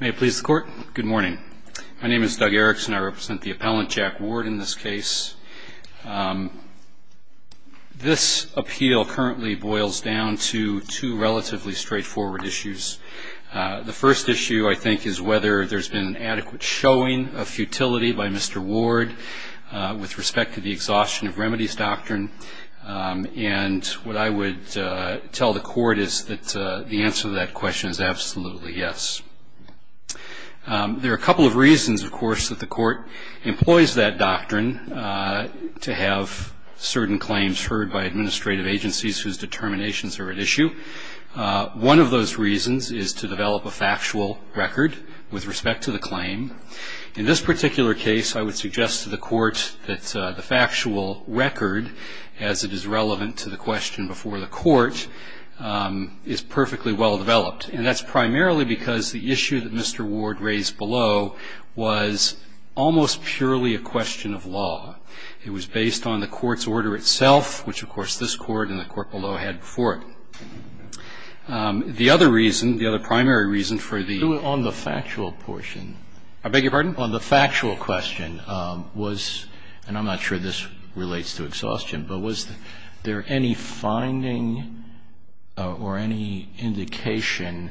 May it please the court. Good morning. My name is Doug Erickson. I represent the appellant, Jack Ward, in this case. This appeal currently boils down to two relatively straightforward issues. The first issue, I think, is whether there's been an adequate showing of futility by Mr. Ward with respect to the exhaustion of remedies doctrine. And what I would tell the court is that the answer to that question is absolutely yes. There are a couple of reasons, of course, that the court employs that doctrine to have certain claims heard by administrative agencies whose determinations are at issue. One of those reasons is to develop a factual record with respect to the claim. In this particular case, I would suggest to the court that the factual record, as it is relevant to the question before the court, is perfectly well developed. And that's primarily because the issue that Mr. Ward raised below was almost purely a question of law. It was based on the court's order itself, which, of course, this court and the court below had before it. The other reason, the other primary reason for the- On the factual portion. I beg your pardon? On the factual question, was, and I'm not sure this relates to exhaustion, but was there any finding or any indication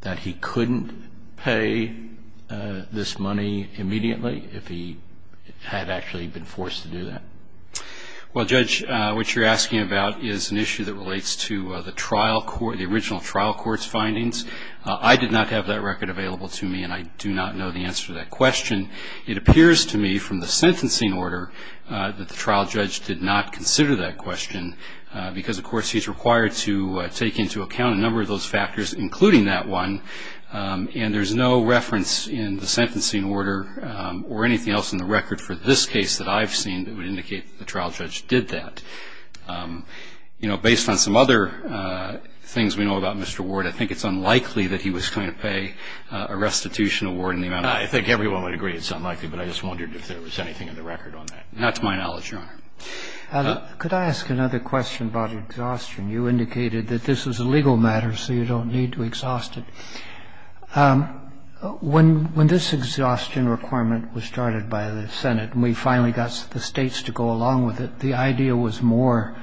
that he couldn't pay this money immediately if he had actually been forced to do that? Well, Judge, what you're asking about is an issue that relates to the original trial court's findings. I did not have that record available to me, and I do not know the answer to that question. It appears to me from the sentencing order that the trial judge did not consider that question because, of course, he's required to take into account a number of those factors, including that one, and there's no reference in the sentencing order or anything else in the record for this case that I've seen that would indicate that the trial judge did that. You know, based on some other things we know about Mr. Ward, I think it's unlikely that he was going to pay a restitution award in the amount of- I think everyone would agree it's unlikely, but I just wondered if there was anything in the record on that. Not to my knowledge, Your Honor. Could I ask another question about exhaustion? You indicated that this was a legal matter, so you don't need to exhaust it. When this exhaustion requirement was started by the Senate and we finally got the states to go along with it, the idea was more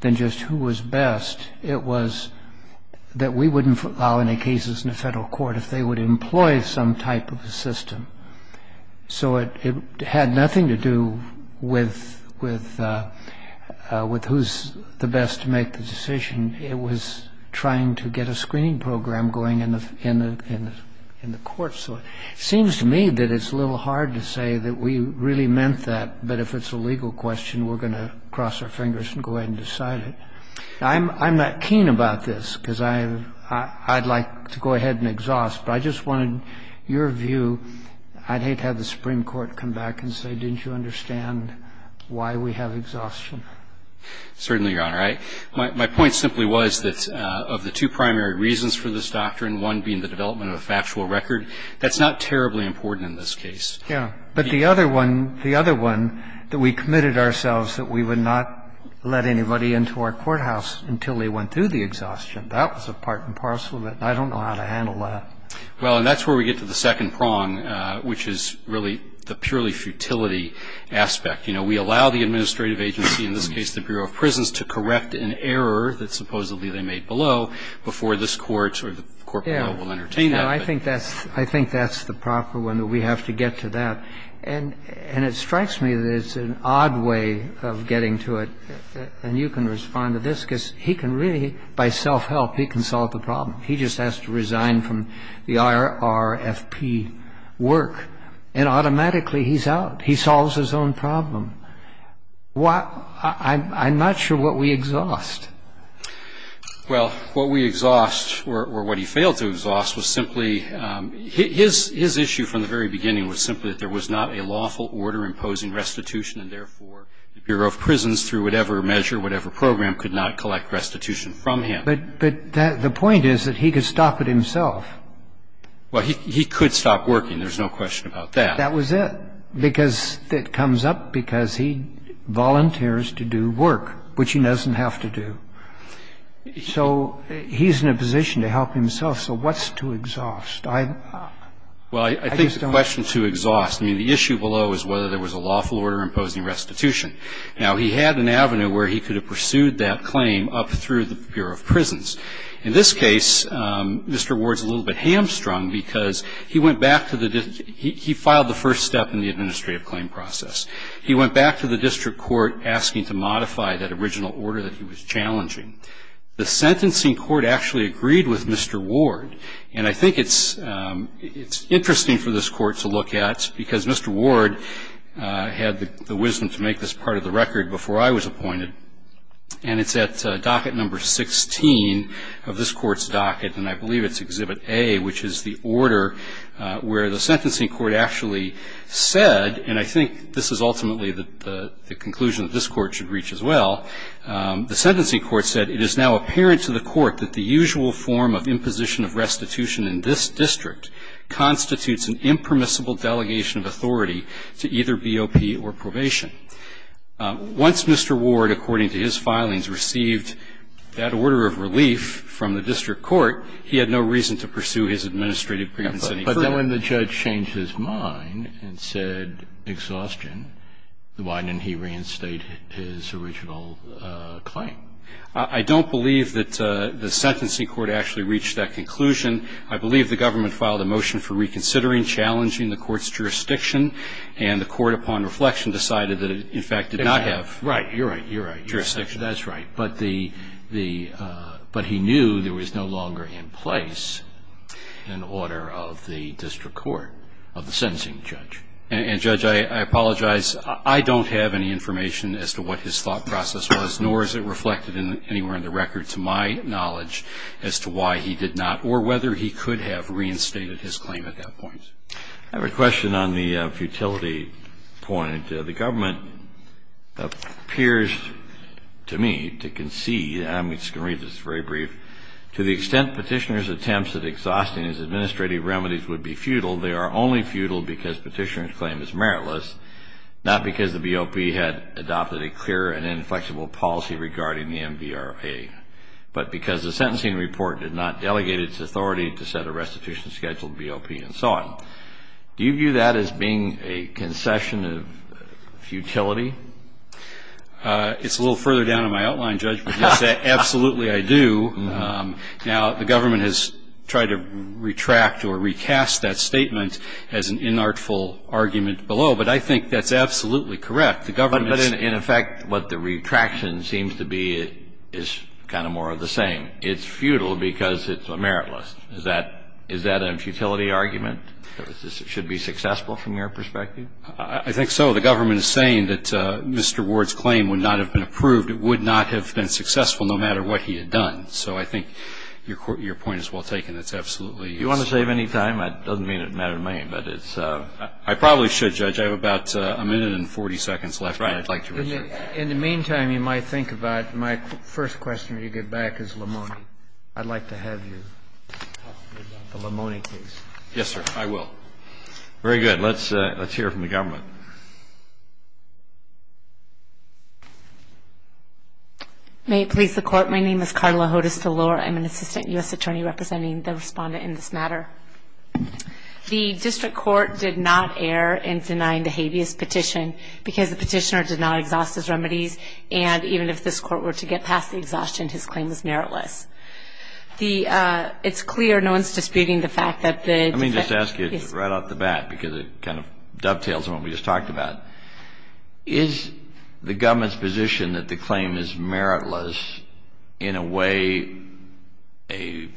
than just who was best. It was that we wouldn't allow any cases in the federal court if they would employ some type of a system. So it had nothing to do with who's the best to make the decision. It was trying to get a screening program going in the courts. So it seems to me that it's a little hard to say that we really meant that, but if it's a legal question, we're going to cross our fingers and go ahead and decide it. I'm not keen about this, because I'd like to go ahead and exhaust, but I just wanted your view. I'd hate to have the Supreme Court come back and say, didn't you understand why we have exhaustion? Certainly, Your Honor. My point simply was that of the two primary reasons for this doctrine, one being the development of a factual record, that's not terribly important in this case. Yeah. But the other one, the other one, that we committed ourselves that we would not let anybody into our courthouse until they went through the exhaustion, that was a part and parcel of it. I don't know how to handle that. Well, and that's where we get to the second prong, which is really the purely futility aspect. You know, we allow the administrative agency, in this case the Bureau of Prisons, to correct an error that supposedly they made below before this court or the court below will entertain that. I think that's the proper one. We have to get to that. And it strikes me that it's an odd way of getting to it, and you can respond to this, He just has to resign from the IRFP work, and automatically he's out. He solves his own problem. I'm not sure what we exhaust. Well, what we exhaust, or what he failed to exhaust, was simply his issue from the very beginning was simply that there was not a lawful order imposing restitution, and therefore the Bureau of Prisons, through whatever measure, whatever program, could not collect restitution from him. But the point is that he could stop it himself. Well, he could stop working. There's no question about that. That was it. Because it comes up because he volunteers to do work, which he doesn't have to do. So he's in a position to help himself. So what's to exhaust? Well, I think the question to exhaust, I mean, the issue below is whether there was a lawful order imposing restitution. Now, he had an avenue where he could have pursued that claim up through the Bureau of Prisons. In this case, Mr. Ward's a little bit hamstrung because he went back to the district. He filed the first step in the administrative claim process. He went back to the district court asking to modify that original order that he was challenging. The sentencing court actually agreed with Mr. Ward, and I think it's interesting for this court to look at, because Mr. Ward had the wisdom to make this part of the record before I was appointed. And it's at docket number 16 of this court's docket, and I believe it's exhibit A, which is the order where the sentencing court actually said, and I think this is ultimately the conclusion that this court should reach as well. The sentencing court said, It is now apparent to the court that the usual form of imposition of restitution in this district constitutes an impermissible delegation of authority to either BOP or probation. Once Mr. Ward, according to his filings, received that order of relief from the district court, he had no reason to pursue his administrative grievance any further. But when the judge changed his mind and said exhaustion, why didn't he reinstate his original claim? I don't believe that the sentencing court actually reached that conclusion. I believe the government filed a motion for reconsidering, challenging the court's jurisdiction, and the court, upon reflection, decided that it, in fact, did not have jurisdiction. Right. You're right. That's right. But he knew there was no longer in place an order of the district court of the sentencing judge. And, Judge, I apologize. I don't have any information as to what his thought process was, or as it reflected anywhere in the record, to my knowledge, as to why he did not, or whether he could have reinstated his claim at that point. I have a question on the futility point. The government appears to me to concede. I'm just going to read this very brief. To the extent petitioner's attempts at exhausting his administrative remedies would be futile, they are only futile because petitioner's claim is meritless, not because the BOP had adopted a clear and inflexible policy regarding the MVRA, but because the sentencing report did not delegate its authority to set a restitution schedule to BOP and so on. Do you view that as being a concession of futility? It's a little further down in my outline, Judge, but yes, absolutely I do. Now, the government has tried to retract or recast that statement as an inartful argument below, but I think that's absolutely correct. The government's ---- But in effect, what the retraction seems to be is kind of more of the same. It's futile because it's meritless. Is that a futility argument? Should it be successful from your perspective? I think so. The government is saying that Mr. Ward's claim would not have been approved. It would not have been successful no matter what he had done. So I think your point is well taken. It's absolutely ---- Do you want to save any time? It doesn't matter to me, but it's ---- I probably should, Judge. I have about a minute and 40 seconds left. Right. In the meantime, you might think about my first question when you get back is Lamoni. I'd like to have you talk to me about the Lamoni case. Yes, sir. I will. Very good. Let's hear it from the government. May it please the Court, my name is Carla Hodes-DeLore. I'm an assistant U.S. attorney representing the respondent in this matter. The district court did not err in denying the habeas petition because the petitioner did not exhaust his remedies, and even if this court were to get past the exhaustion, his claim is meritless. It's clear no one is disputing the fact that the district ---- Let me just ask you right off the bat because it kind of dovetails on what we just talked about. Is the government's position that the claim is meritless in a way a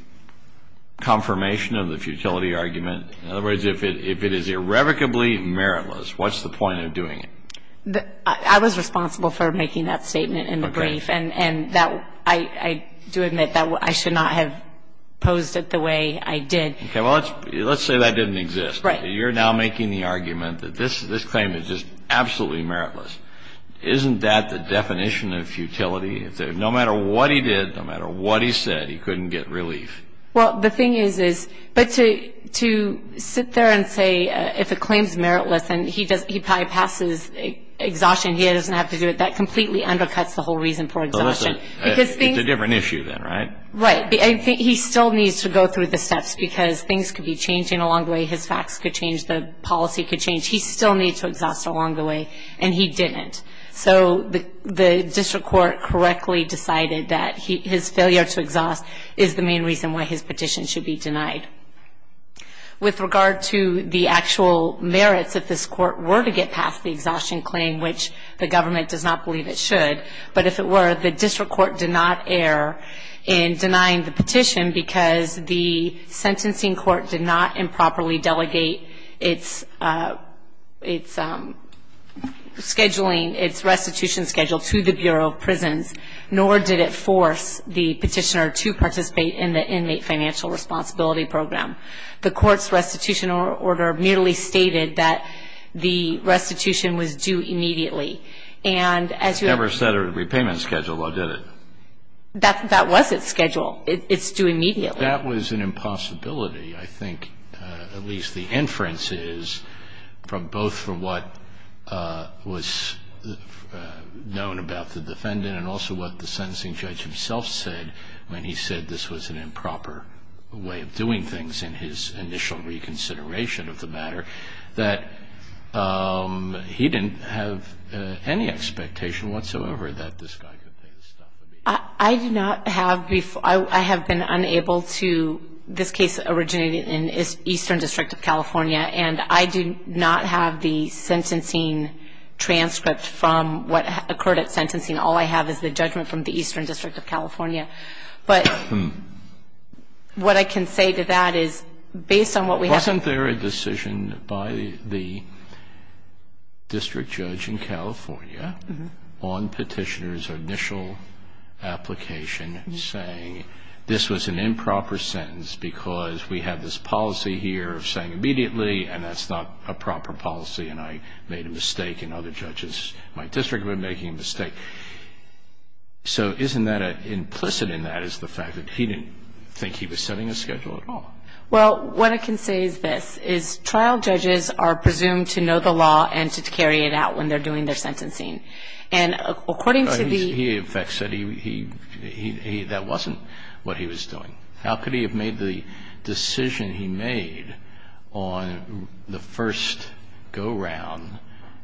confirmation of the futility argument? In other words, if it is irrevocably meritless, what's the point of doing it? I was responsible for making that statement in the brief, and I do admit that I should not have posed it the way I did. Okay, well, let's say that didn't exist. You're now making the argument that this claim is just absolutely meritless. Isn't that the definition of futility? No matter what he did, no matter what he said, he couldn't get relief. Well, the thing is, but to sit there and say if a claim is meritless and he bypasses exhaustion, he doesn't have to do it, that completely undercuts the whole reason for exhaustion. It's a different issue then, right? Right. He still needs to go through the steps because things could be changing along the way. His facts could change. The policy could change. He still needs to exhaust along the way, and he didn't. So the district court correctly decided that his failure to exhaust is the main reason why his petition should be denied. With regard to the actual merits, if this court were to get past the exhaustion claim, which the government does not believe it should, but if it were, the district court did not err in denying the petition because the sentencing court did not improperly delegate its restitution schedule to the Bureau of Prisons, nor did it force the petitioner to participate in the inmate financial responsibility program. The court's restitution order merely stated that the restitution was due immediately. It never said a repayment schedule, though, did it? That was its schedule. It's due immediately. That was an impossibility, I think, at least the inference is, from both from what was known about the defendant and also what the sentencing judge himself said when he said this was an improper way of doing things in his initial reconsideration of the matter, that he didn't have any expectation whatsoever that this guy could pay the stuff immediately. I do not have before. I have been unable to. This case originated in Eastern District of California, and I do not have the sentencing transcript from what occurred at sentencing. All I have is the judgment from the Eastern District of California. But what I can say to that is based on what we have. Wasn't there a decision by the district judge in California on petitioner's initial application saying this was an improper sentence because we have this policy here of saying immediately, and that's not a proper policy, and I made a mistake, and other judges in my district have been making a mistake? So isn't that implicit in that is the fact that he didn't think he was setting a schedule at all? Well, what I can say is this, is trial judges are presumed to know the law and to carry it out when they're doing their sentencing. And according to the... He, in fact, said that wasn't what he was doing. How could he have made the decision he made on the first go-round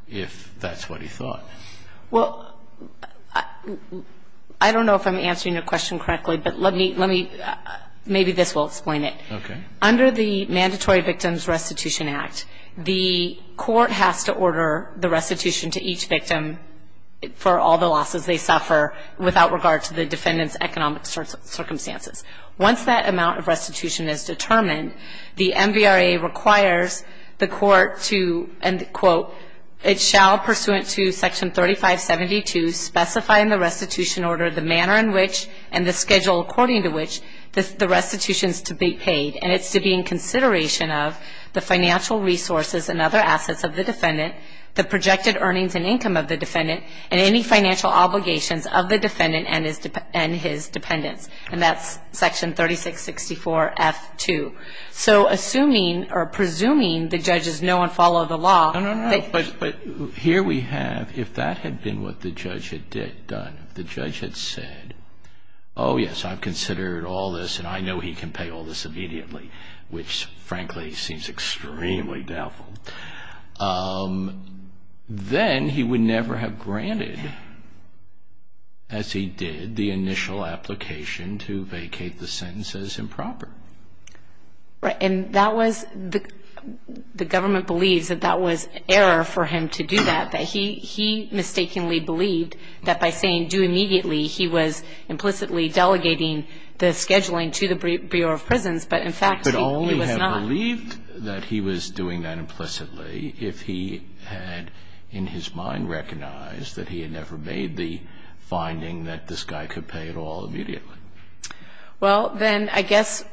if that's what he thought? Well, I don't know if I'm answering your question correctly, but let me... Maybe this will explain it. Okay. Under the Mandatory Victims Restitution Act, the court has to order the restitution to each victim for all the losses they suffer without regard to the defendant's economic circumstances. Once that amount of restitution is determined, the MVRA requires the court to... And quote... the projected earnings and income of the defendant and any financial obligations of the defendant and his dependents. And that's section 3664F2. So assuming or presuming the judges know and follow the law... No, no, no. But here we have, if that had been what the judge had done, if the judge had said, oh, yes, I've considered all this and I know he can pay all this immediately, which frankly seems extremely doubtful, then he would never have granted, as he did, the initial application to vacate the sentence as improper. Right. And that was... the government believes that that was error for him to do that, that he mistakenly believed that by saying do immediately, he was implicitly delegating the scheduling to the Bureau of Prisons, but in fact he was not. He could only have believed that he was doing that implicitly if he had in his mind recognized that he had never made the finding that this guy could pay it all immediately. Well, then I guess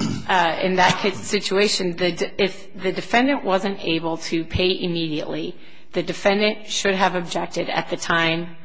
in that situation, if the defendant wasn't able to pay immediately, the defendant should have objected at the time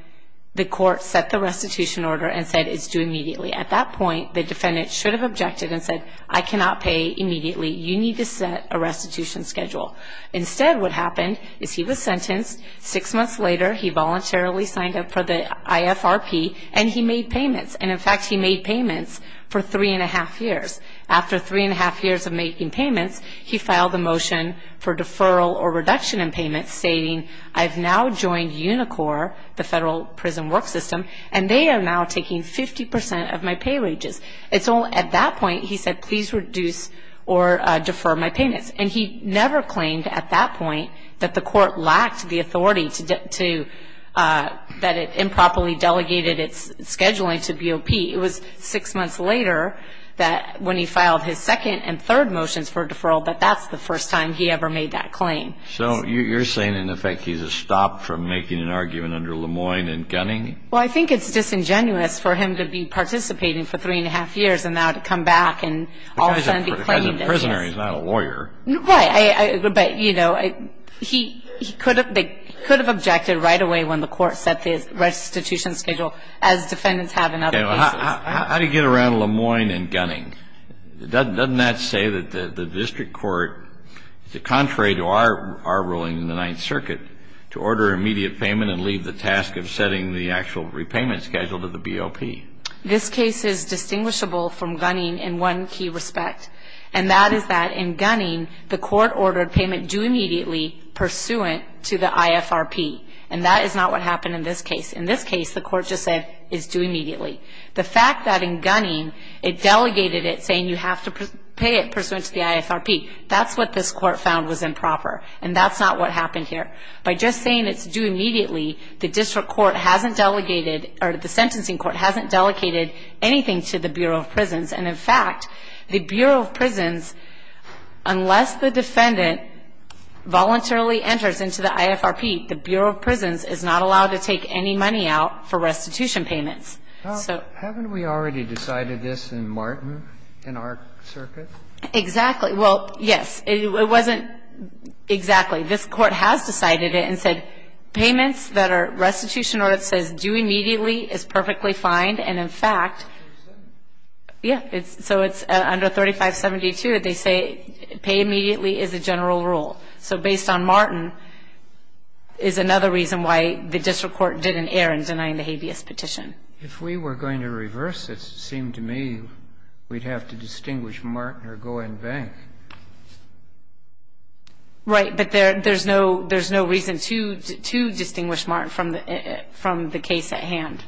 the court set the restitution order and said it's due immediately. At that point, the defendant should have objected and said, I cannot pay immediately. You need to set a restitution schedule. Instead, what happened is he was sentenced. Six months later, he voluntarily signed up for the IFRP and he made payments, and in fact he made payments for three and a half years. After three and a half years of making payments, he filed a motion for deferral or reduction in payments stating, I've now joined Unicor, the federal prison work system, and they are now taking 50% of my pay wages. At that point, he said, please reduce or defer my payments, and he never claimed at that point that the court lacked the authority that it improperly delegated its scheduling to BOP. It was six months later when he filed his second and third motions for deferral that that's the first time he ever made that claim. So you're saying, in effect, he's a stop from making an argument under Lemoine and Gunning? Well, I think it's disingenuous for him to be participating for three and a half years and now to come back and all of a sudden be claimed. The guy's a prisoner. He's not a lawyer. Right. But, you know, he could have objected right away when the court set the restitution schedule, as defendants have in other cases. How do you get around Lemoine and Gunning? Doesn't that say that the district court, contrary to our ruling in the Ninth This case is distinguishable from Gunning in one key respect, and that is that in Gunning the court ordered payment due immediately pursuant to the IFRP, and that is not what happened in this case. In this case the court just said it's due immediately. The fact that in Gunning it delegated it saying you have to pay it pursuant to the IFRP, that's what this court found was improper, and that's not what happened here. By just saying it's due immediately, the district court hasn't delegated or the sentencing court hasn't delegated anything to the Bureau of Prisons. And, in fact, the Bureau of Prisons, unless the defendant voluntarily enters into the IFRP, the Bureau of Prisons is not allowed to take any money out for restitution payments. Haven't we already decided this in Martin, in our circuit? Exactly. Well, yes. It wasn't exactly. This Court has decided it and said payments that are restitution or that says due immediately is perfectly fine, and, in fact, yeah, so it's under 3572, they say pay immediately is a general rule. So based on Martin is another reason why the district court didn't err in denying the habeas petition. If we were going to reverse this, it seemed to me we'd have to distinguish Martin or Goen Bank. Right. But there's no reason to distinguish Martin from the case at hand.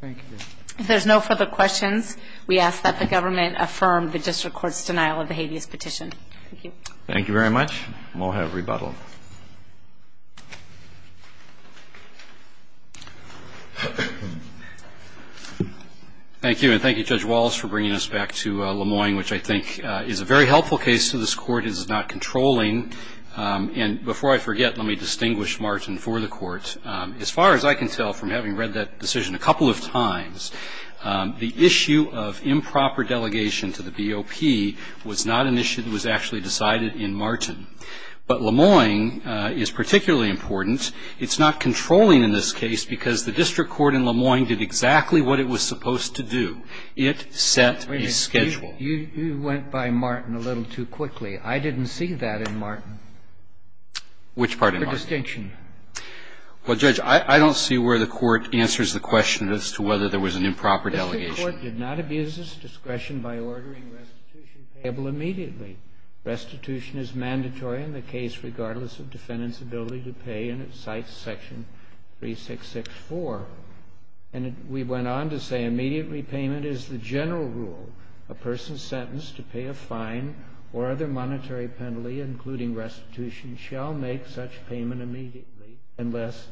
Thank you. If there's no further questions, we ask that the government affirm the district court's denial of the habeas petition. Thank you. Thank you very much. And we'll have rebuttal. Thank you, and thank you, Judge Wallace, for bringing us back to Lemoyne, which I think is a very helpful case to this Court. It is not controlling. And before I forget, let me distinguish Martin for the Court. As far as I can tell from having read that decision a couple of times, the issue of improper delegation to the BOP was not an issue that was actually decided in Martin. But Lemoyne is particularly important. It's not controlling in this case because the district court in Lemoyne did exactly what it was supposed to do. It set a schedule. You went by Martin a little too quickly. I didn't see that in Martin. Which part in Martin? The distinction. Well, Judge, I don't see where the Court answers the question as to whether there was an improper delegation. The district court did not abuse its discretion by ordering restitution payable immediately. Restitution is mandatory in the case regardless of defendant's ability to pay, and it cites Section 3664. And we went on to say immediate repayment is the general rule. A person sentenced to pay a fine or other monetary penalty, including restitution, shall make such payment immediately unless,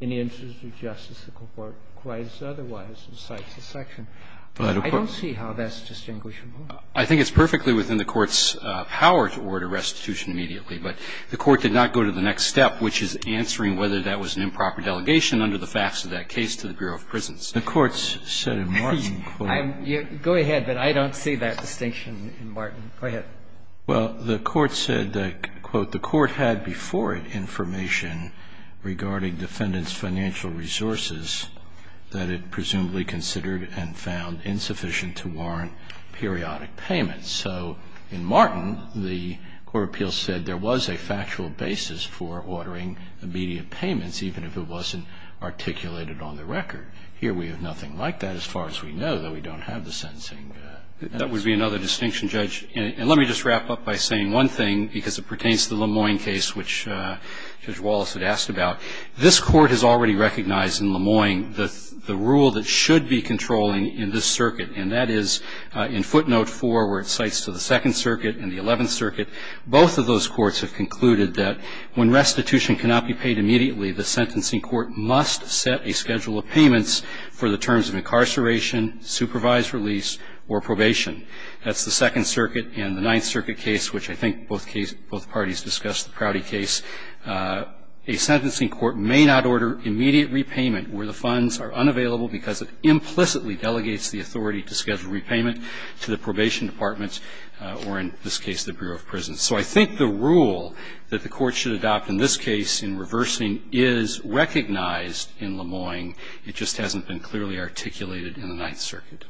in the interest of justice, the court requires otherwise and cites the section. I don't see how that's distinguishable. I think it's perfectly within the Court's power to order restitution immediately. But the Court did not go to the next step, which is answering whether that was an improper delegation under the facts of that case to the Bureau of Prisons. The Court said in Martin, quote. Go ahead. But I don't see that distinction in Martin. Go ahead. Well, the Court said that, quote, The Court had before it information regarding defendant's financial resources that it presumably considered and found insufficient to warrant periodic payments. So in Martin, the Court of Appeals said there was a factual basis for ordering immediate payments, even if it wasn't articulated on the record. Here we have nothing like that as far as we know, though we don't have the sentencing. That would be another distinction, Judge. And let me just wrap up by saying one thing, because it pertains to the Lemoyne case, which Judge Wallace had asked about. This Court has already recognized in Lemoyne the rule that should be controlling in this circuit, and that is in footnote 4, where it cites to the Second Circuit and the Eleventh Circuit. Both of those courts have concluded that when restitution cannot be paid immediately, the sentencing court must set a schedule of payments for the terms of incarceration, supervised release, or probation. That's the Second Circuit and the Ninth Circuit case, which I think both parties discussed, the Prouty case. A sentencing court may not order immediate repayment where the funds are unavailable because it implicitly delegates the authority to schedule repayment to the probation department or, in this case, the Bureau of Prisons. So I think the rule that the Court should adopt in this case in reversing is recognized in Lemoyne. It just hasn't been clearly articulated in the Ninth Circuit.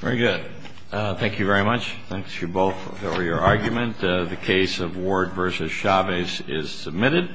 Very good. Thank you very much. Thanks, you both, for your argument. The case of Ward v. Chavez is submitted.